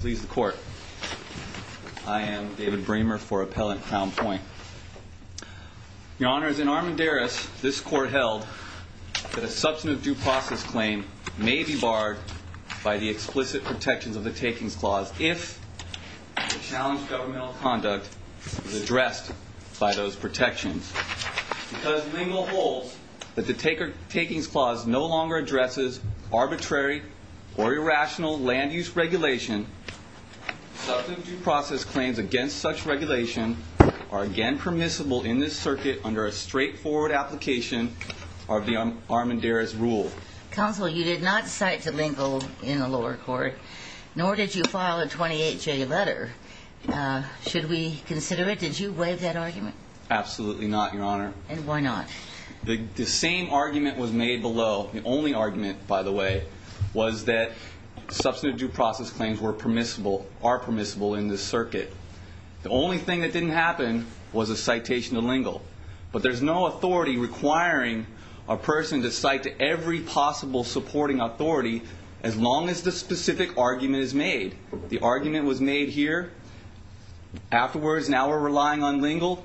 Please the court. I am David Bremer for Appellant Crown Point. Your Honor, as in Armendaris, this court held that a substantive due process claim may be barred by the explicit protections of the Takings Clause if the challenged governmental conduct is addressed by those protections. Because Lingo holds that the Takings Clause no longer addresses arbitrary or irrational land-use regulation, substantive due process claims against such regulation are again permissible in this circuit under a straightforward application of the Armendaris rule. Counsel, you did not cite the Lingo in the lower court, nor did you file a 28-J letter. Should we consider it? Did you waive that argument? Absolutely not, Your Honor. And why not? The same argument was made here. Afterwards, now we're relying on Lingo,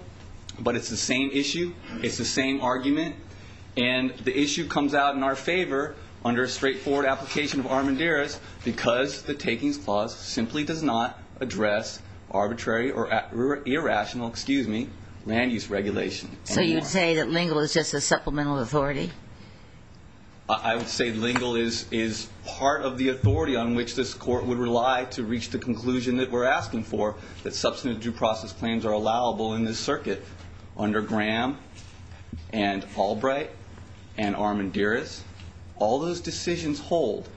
but it's the same issue, it's the same argument, and the issue comes out in our favor under a straightforward application of Armendaris because the Takings Clause does not address arbitrary or irrational land-use regulation, substantive due process claims against such regulation are again permissible in this circuit under a straightforward application of the Armendaris rule. So you'd say that Lingo is just a supplemental authority? I would say Lingo is part of the authority on which this court would rely to reach the conclusion that we're asking for, that substantive due process claims are allowable in this circuit under Graham and Albright and Armendaris. All those decisions hold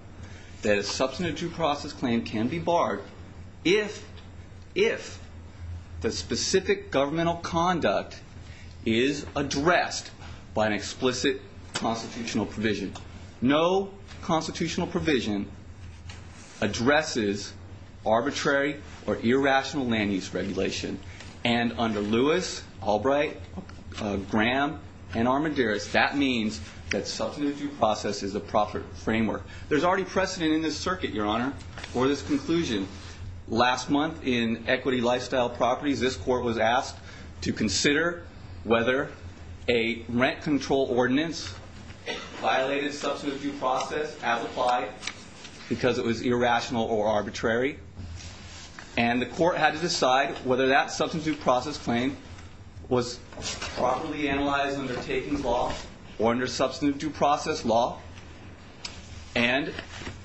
that a substantive due process claim is permissible in this circuit. A substantive due process claim can be barred if the specific governmental conduct is addressed by an explicit constitutional provision. No constitutional provision addresses arbitrary or irrational land-use regulation. And under Lewis, Albright, Graham, and Armendaris, that means that substantive due process is a proper framework. There's already precedent in this circuit, Your Honor, or there's precedent in this circuit. So let's go to this conclusion. Last month, in Equity Lifestyle Properties, this court was asked to consider whether a rent control ordinance violated substantive due process as applied because it was irrational or arbitrary, and the court had to decide whether that substantive due process claim was properly analyzed under Takings Law or under substantive due process law, and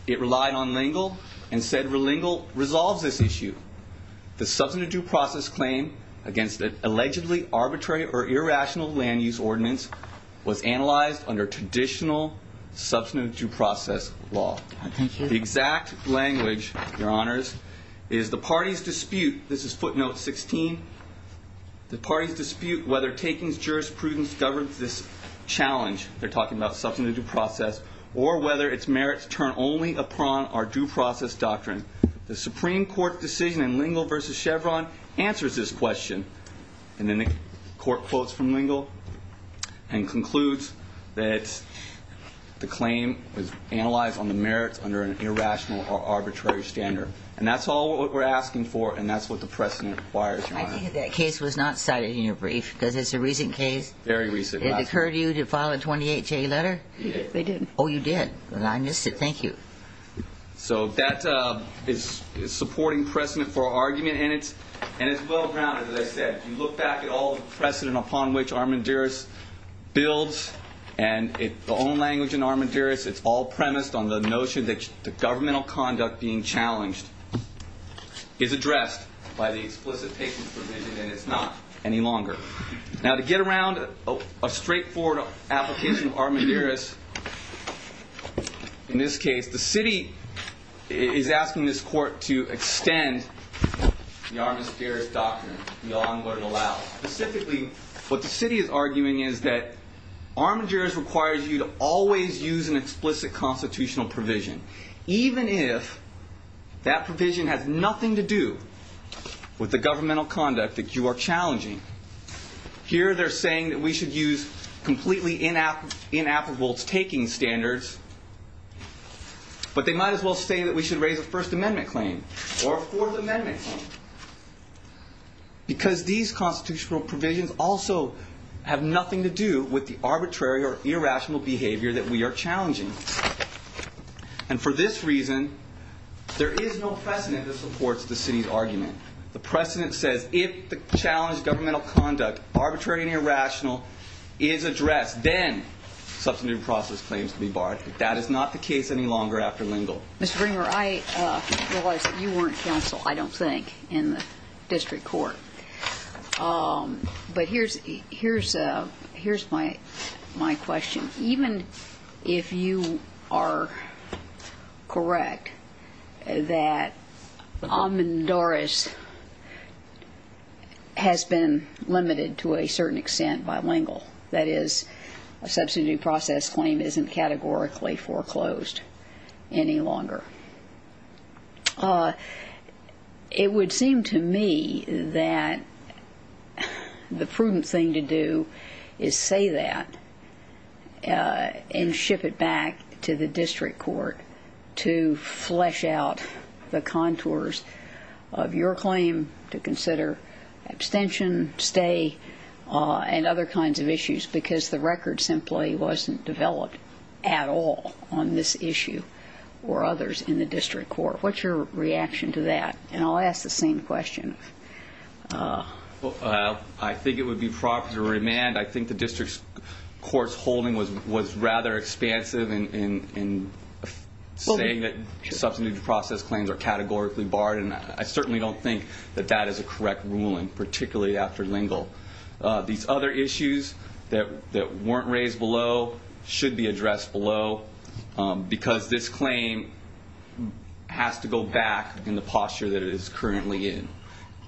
it relied on Lingo and said that it was unconstitutional. The court said that Lingo resolves this issue. The substantive due process claim against an allegedly arbitrary or irrational land-use ordinance was analyzed under traditional substantive due process law. The exact language, Your Honors, is the party's dispute, this is footnote 16, the party's dispute whether Takings jurisprudence governs this challenge, they're talking about substantive due process, or whether its merits turn only upon our due process doctrine. The Supreme Court decision in Lingo v. Chevron answers this question, and then the court quotes from Lingo and concludes that the claim was analyzed on the merits under an irrational or arbitrary standard. And that's all we're asking for, and that's what the precedent requires, Your Honor. I think that case was not cited in your brief, because it's a recent case. Very recent. Did it occur to you to file a 28-J letter? They did. Oh, you did. I missed it. Thank you. So that is supporting precedent for argument, and it's well-grounded, as I said. You look back at all the precedent upon which Armandiris builds, and the own language in Armandiris, it's all premised on the notion that the governmental conduct being challenged is addressed by the explicit patient's provision, and it's not any longer. Now, to get around a straightforward application of Armandiris in this case, the city is asking this court to extend the Armandiris doctrine beyond what it allows. Specifically, what the city is arguing is that Armandiris requires you to always use an explicit constitutional provision, even if that provision has nothing to do with the governmental conduct that you are challenging. Here, they're saying that we should use completely inapplicable taking standards, but they might as well say that we should raise a First Amendment claim or a Fourth Amendment claim, because these constitutional provisions also have nothing to do with the arbitrary or irrational behavior that we are challenging. And for this reason, there is no precedent that supports the city's argument. The precedent says if the challenged governmental conduct, arbitrary and irrational, is addressed, then substantive process claims can be barred. That is not the case any longer after Lingle. Ms. Bringer, I realize that you weren't counsel, I don't think, in the district court. But here's my question. Even if you are correct that Armandiris has been limited to a certain extent by Lingle, that is, a substantive process claim isn't categorically foreclosed any longer, it would seem to me that the prudent thing to do is say that. And ship it back to the district court to flesh out the contours of your claim to consider abstention, stay, and other kinds of issues, because the record simply wasn't developed at all on this issue or others in the district court. What's your reaction to that? And I'll ask the same question. Well, I think it would be proper to remand. I think the district court's holding was rather expansive in saying that substantive process claims are categorically barred, and I certainly don't think that that is a correct ruling, particularly after Lingle. These other issues that weren't raised below should be addressed below, because this claim has to go back in the posture that it is currently in.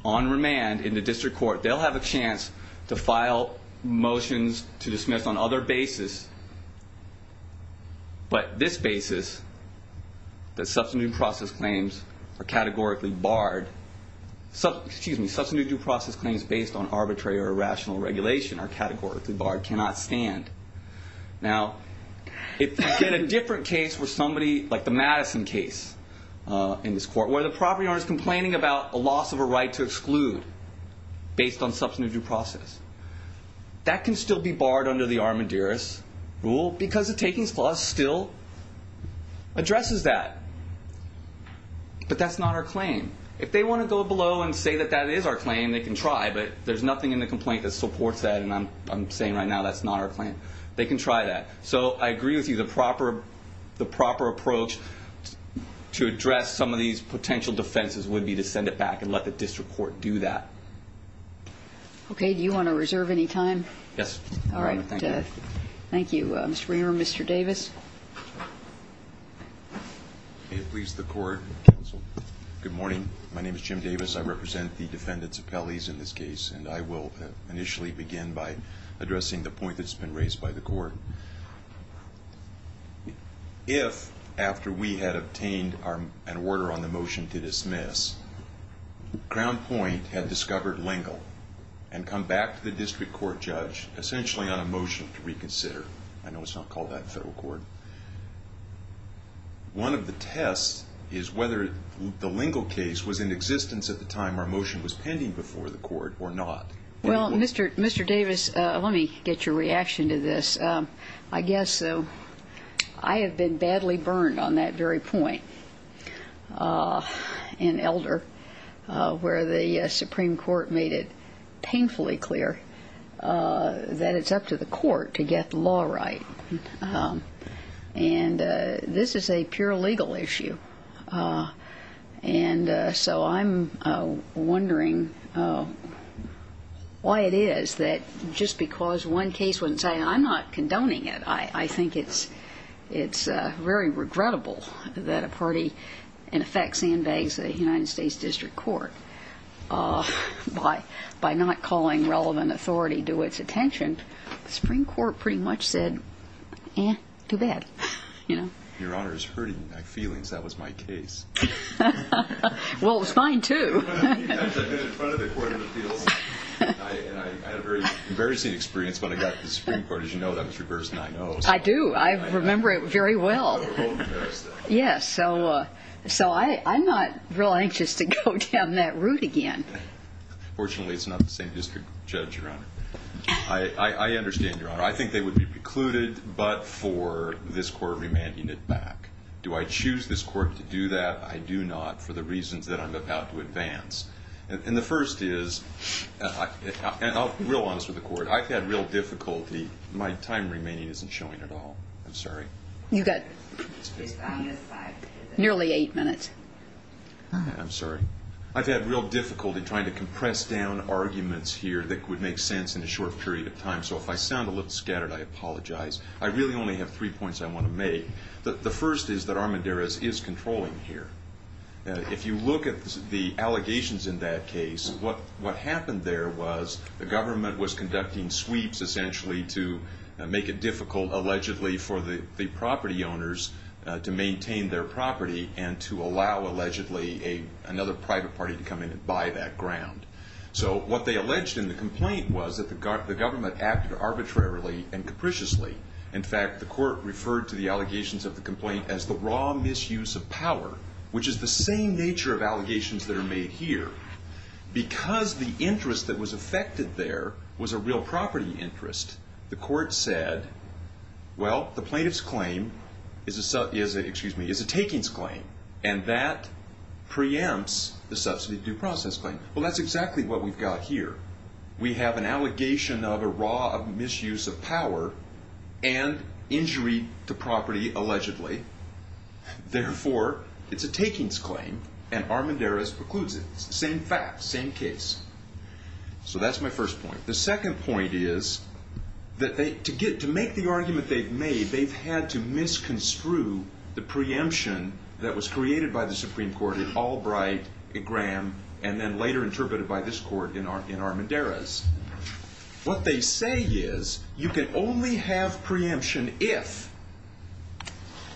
On remand, in the district court, they'll have a chance to file motions to dismiss on other basis, but this basis, that substantive process claims are categorically barred, excuse me, substantive due process claims based on arbitrary or irrational regulation are categorically barred, cannot stand. Now, if you get a different case where somebody, like the Madison case in this court, where the property owner's complaining about a loss of a right to exclude based on substantive due process, that can still be barred under the armadurus rule, because the takings clause still addresses that. But that's not our claim. If they want to go below and say that that is our claim, they can try, but there's nothing in the complaint that supports that, and I'm saying right now that's not our claim. They can try that. So I agree with you, the proper approach to address some of these potential defenses would be to send it back and let the district court do that. Okay. Do you want to reserve any time? Yes. All right. Thank you, Mr. Reamer. Mr. Davis? May it please the court, counsel. Good morning. My name is Jim Davis. I represent the defendants' appellees in this case, and I will initially begin by addressing the point that's been raised by the court. If, after we had obtained an order on the motion to dismiss, Crown Point had discovered Lingle and come back to the district court judge, essentially on a motion to reconsider, I know it's not called that in federal court, one of the tests is whether the Lingle case was in existence at the time our motion was pending before the court or not. Well, Mr. Davis, let me get your reaction to this. I guess I have been badly burned on that very point in Elder where the Supreme Court made it painfully clear that it's up to the court to get the law right, and this is a pure legal issue. And so I'm wondering why it is that just because one case wouldn't say, I'm not condoning it, I think it's very regrettable that a party in effect sandbags the United States district court by not calling relevant authority to its attention. The Supreme Court pretty much said, eh, too bad. Your Honor, it's hurting my feelings. That was my case. Well, it was mine, too. I had a very embarrassing experience when I got to the Supreme Court. As you know, that was reversed 9-0. I do. I remember it very well. Yes, so I'm not real anxious to go down that route again. I understand, Your Honor. I think they would be precluded but for this court remanding it back. Do I choose this court to do that? I do not for the reasons that I'm about to advance. And the first is, and I'll be real honest with the court, I've had real difficulty. My time remaining isn't showing at all. I'm sorry. You've got nearly eight minutes. I'm sorry. I've had real difficulty trying to compress down arguments here that would make sense in a short period of time. So if I sound a little scattered, I apologize. I really only have three points I want to make. The first is that Armendariz is controlling here. If you look at the allegations in that case, what happened there was the government was conducting sweeps, essentially, to make it difficult, allegedly, for the property owners to maintain their property and to allow, allegedly, another private party to come in and buy that ground. So what they alleged in the complaint was that the government acted arbitrarily and capriciously. In fact, the court referred to the allegations of the complaint as the raw misuse of power, which is the same nature of allegations that are made here. Because the interest that was affected there was a real property interest, the court said, well, the plaintiff's claim is a takings claim, and that preempts the subsidy due process claim. Well, that's exactly what we've got here. We have an allegation of a raw misuse of power and injury to property, allegedly. Therefore, it's a takings claim, and Armendariz precludes it. It's the same fact, same case. So that's my first point. The second point is that to make the argument they've made, they've had to misconstrue the preemption that was created by the Supreme Court in Albright, and then later interpreted by this court in Armendariz. What they say is you can only have preemption if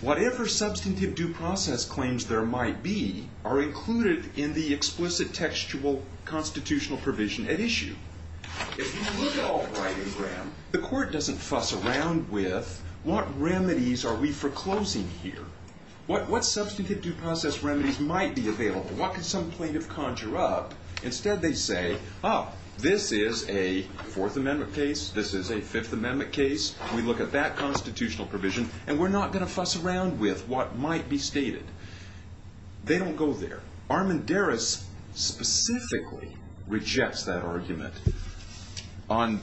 whatever substantive due process claims there might be are included in the explicit textual constitutional provision at issue. If you look at Albright and Graham, the court doesn't fuss around with what remedies are we foreclosing here, what substantive due process remedies might be available, what could some plaintiff conjure up. Instead, they say, oh, this is a Fourth Amendment case, this is a Fifth Amendment case. We look at that constitutional provision, and we're not going to fuss around with what might be stated. They don't go there. Armendariz specifically rejects that argument. On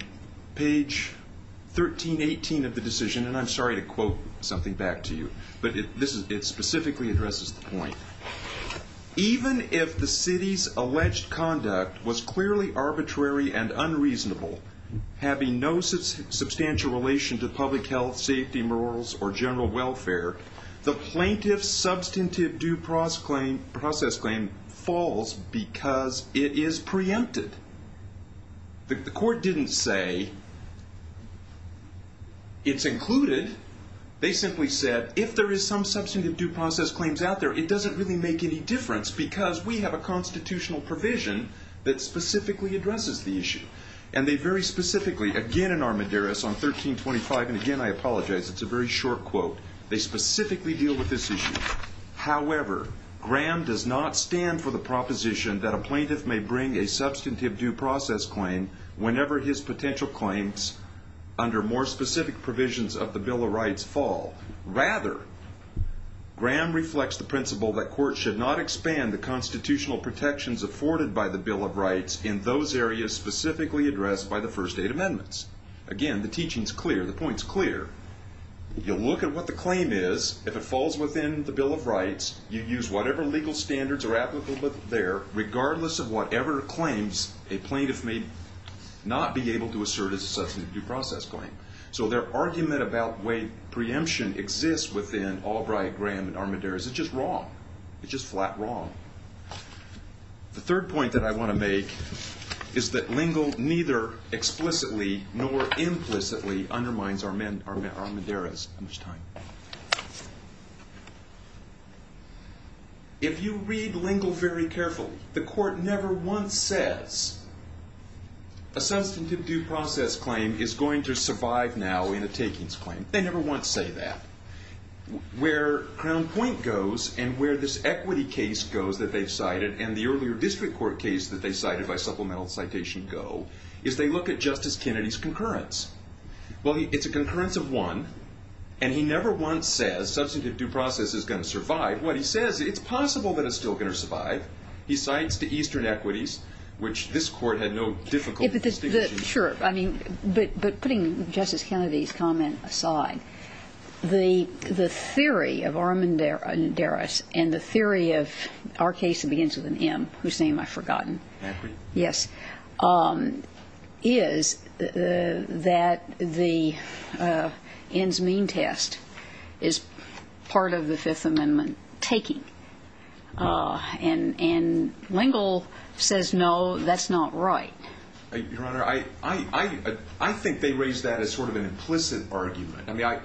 page 1318 of the decision, and I'm sorry to quote something back to you, but it specifically addresses the point. Even if the city's alleged conduct was clearly arbitrary and unreasonable, having no substantial relation to public health, safety, morals, or general welfare, the plaintiff's substantive due process claim falls because it is preempted. The court didn't say it's included. They simply said, if there is some substantive due process claims out there, it doesn't really make any difference because we have a constitutional provision that specifically addresses the issue. And they very specifically, again in Armendariz on 1325, and again I apologize, it's a very short quote, they specifically deal with this issue. However, Graham does not stand for the proposition that a plaintiff may bring a substantive due process claim whenever his potential claims under more specific provisions of the Bill of Rights fall. Rather, Graham reflects the principle that courts should not expand the constitutional protections afforded by the Bill of Rights in those areas specifically addressed by the first eight amendments. Again, the teaching's clear. The point's clear. You look at what the claim is. If it falls within the Bill of Rights, you use whatever legal standards are applicable there, regardless of whatever claims a plaintiff may not be able to assert as a substantive due process claim. So their argument about way preemption exists within Albright, Graham, and Armendariz is just wrong. It's just flat wrong. The third point that I want to make is that Lingle neither explicitly nor implicitly undermines Armendariz. How much time? If you read Lingle very carefully, the court never once says a substantive due process claim is going to survive now in a takings claim. They never once say that. Where Crown Point goes and where this equity case goes that they've cited, and the earlier district court case that they cited by supplemental citation go, is they look at Justice Kennedy's concurrence. Well, it's a concurrence of one, and he never once says substantive due process is going to survive. What he says, it's possible that it's still going to survive. He cites the eastern equities, which this court had no difficulty distinguishing. Sure. I mean, but putting Justice Kennedy's comment aside, the theory of Armendariz and the theory of our case that begins with an M, whose name I've forgotten, is that the ends mean test is part of the Fifth Amendment taking. And Lingle says, no, that's not right. Your Honor, I think they raise that as sort of an implicit argument. My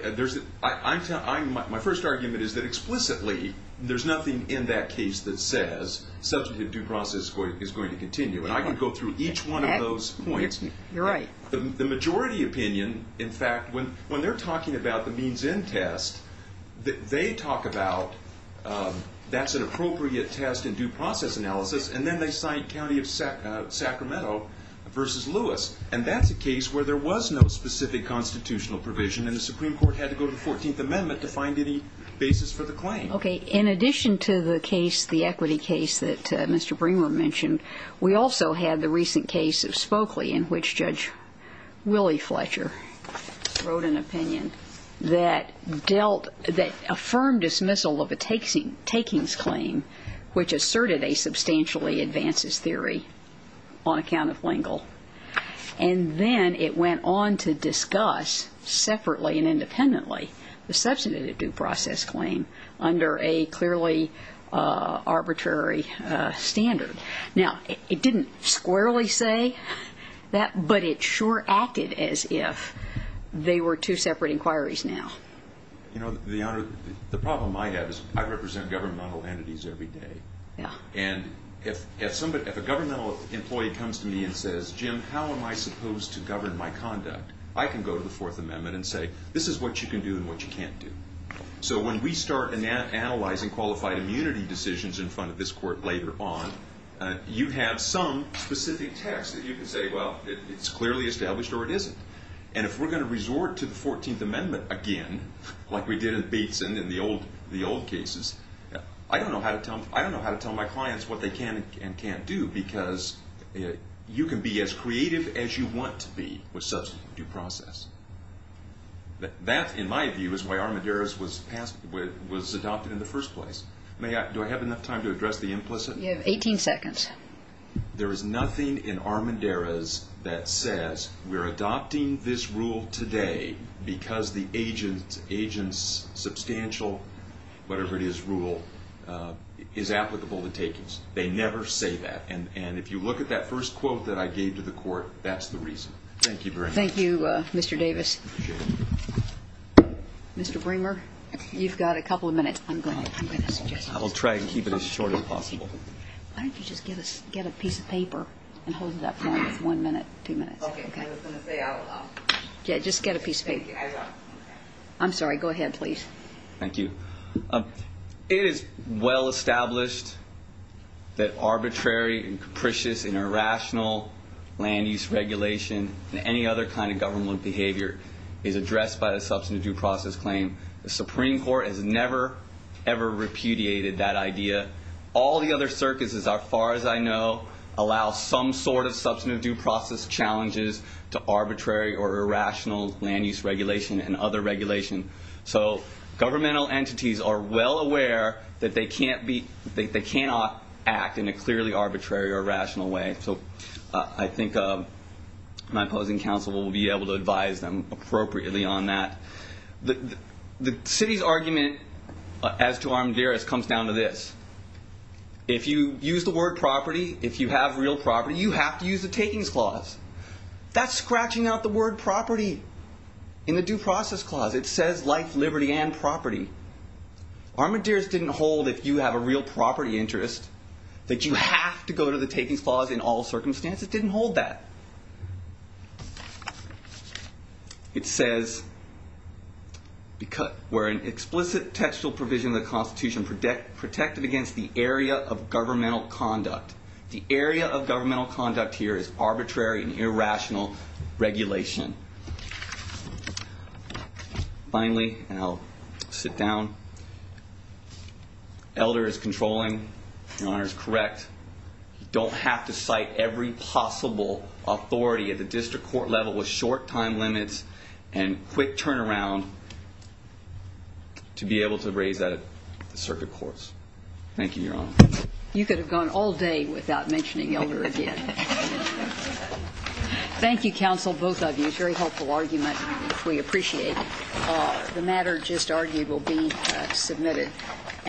first argument is that explicitly there's nothing in that case that says substantive due process is going to continue, and I could go through each one of those points. You're right. The majority opinion, in fact, when they're talking about the means end test, they talk about that's an appropriate test in due process analysis, and then they cite County of Sacramento versus Lewis, and that's a case where there was no specific constitutional provision and the Supreme Court had to go to the 14th Amendment to find any basis for the claim. Okay. In addition to the case, the equity case that Mr. Bremer mentioned, we also had the recent case of Spokley in which Judge Willie Fletcher wrote an opinion that dealt that affirmed dismissal of a takings claim, which asserted a substantially advances theory on account of Lingle. And then it went on to discuss separately and independently the substantive due process claim under a clearly arbitrary standard. Now, it didn't squarely say that, but it sure acted as if they were two separate inquiries now. You know, the problem I have is I represent governmental entities every day, and if a governmental employee comes to me and says, Jim, how am I supposed to govern my conduct? I can go to the Fourth Amendment and say, this is what you can do and what you can't do. So when we start analyzing qualified immunity decisions in front of this court later on, you have some specific text that you can say, well, it's clearly established or it isn't. And if we're going to resort to the Fourteenth Amendment again, like we did at Bateson in the old cases, I don't know how to tell my clients what they can and can't do because you can be as creative as you want to be with substantive due process. That, in my view, is why Armendariz was adopted in the first place. Do I have enough time to address the implicit? You have 18 seconds. There is nothing in Armendariz that says we're adopting this rule today because the agent's substantial, whatever it is, rule is applicable to takings. They never say that. And if you look at that first quote that I gave to the court, that's the reason. Thank you very much. Thank you, Mr. Davis. Mr. Bremer, you've got a couple of minutes. I will try and keep it as short as possible. Why don't you just get a piece of paper and hold it up for one minute, two minutes. Okay. I was going to say I will. Just get a piece of paper. I will. I'm sorry. Go ahead, please. Thank you. It is well established that arbitrary and capricious and irrational land use regulation and any other kind of governmental behavior is addressed by a substantive due process claim. The Supreme Court has never, ever repudiated that idea. All the other circuses, as far as I know, allow some sort of substantive due process challenges to arbitrary or irrational land use regulation and other regulation. So governmental entities are well aware that they cannot act in a clearly arbitrary or rational way. So I think my opposing counsel will be able to advise them appropriately on that. The city's argument as to armadillos comes down to this. If you use the word property, if you have real property, you have to use the takings clause. That's scratching out the word property in the due process clause. It says life, liberty, and property. Armadillos didn't hold if you have a real property interest that you have to go to the takings clause in all circumstances. It didn't hold that. It says where an explicit textual provision of the Constitution protected against the area of governmental conduct. The area of governmental conduct here is arbitrary and irrational regulation. Finally, I'll sit down. Elder is controlling. Your Honor is correct. You don't have to cite every possible authority at the district court level with short time limits and quick turnaround to be able to raise that at the circuit courts. Thank you, Your Honor. You could have gone all day without mentioning Elder again. Thank you, counsel, both of you. It's a very helpful argument. We appreciate it. The matter just argued will be submitted.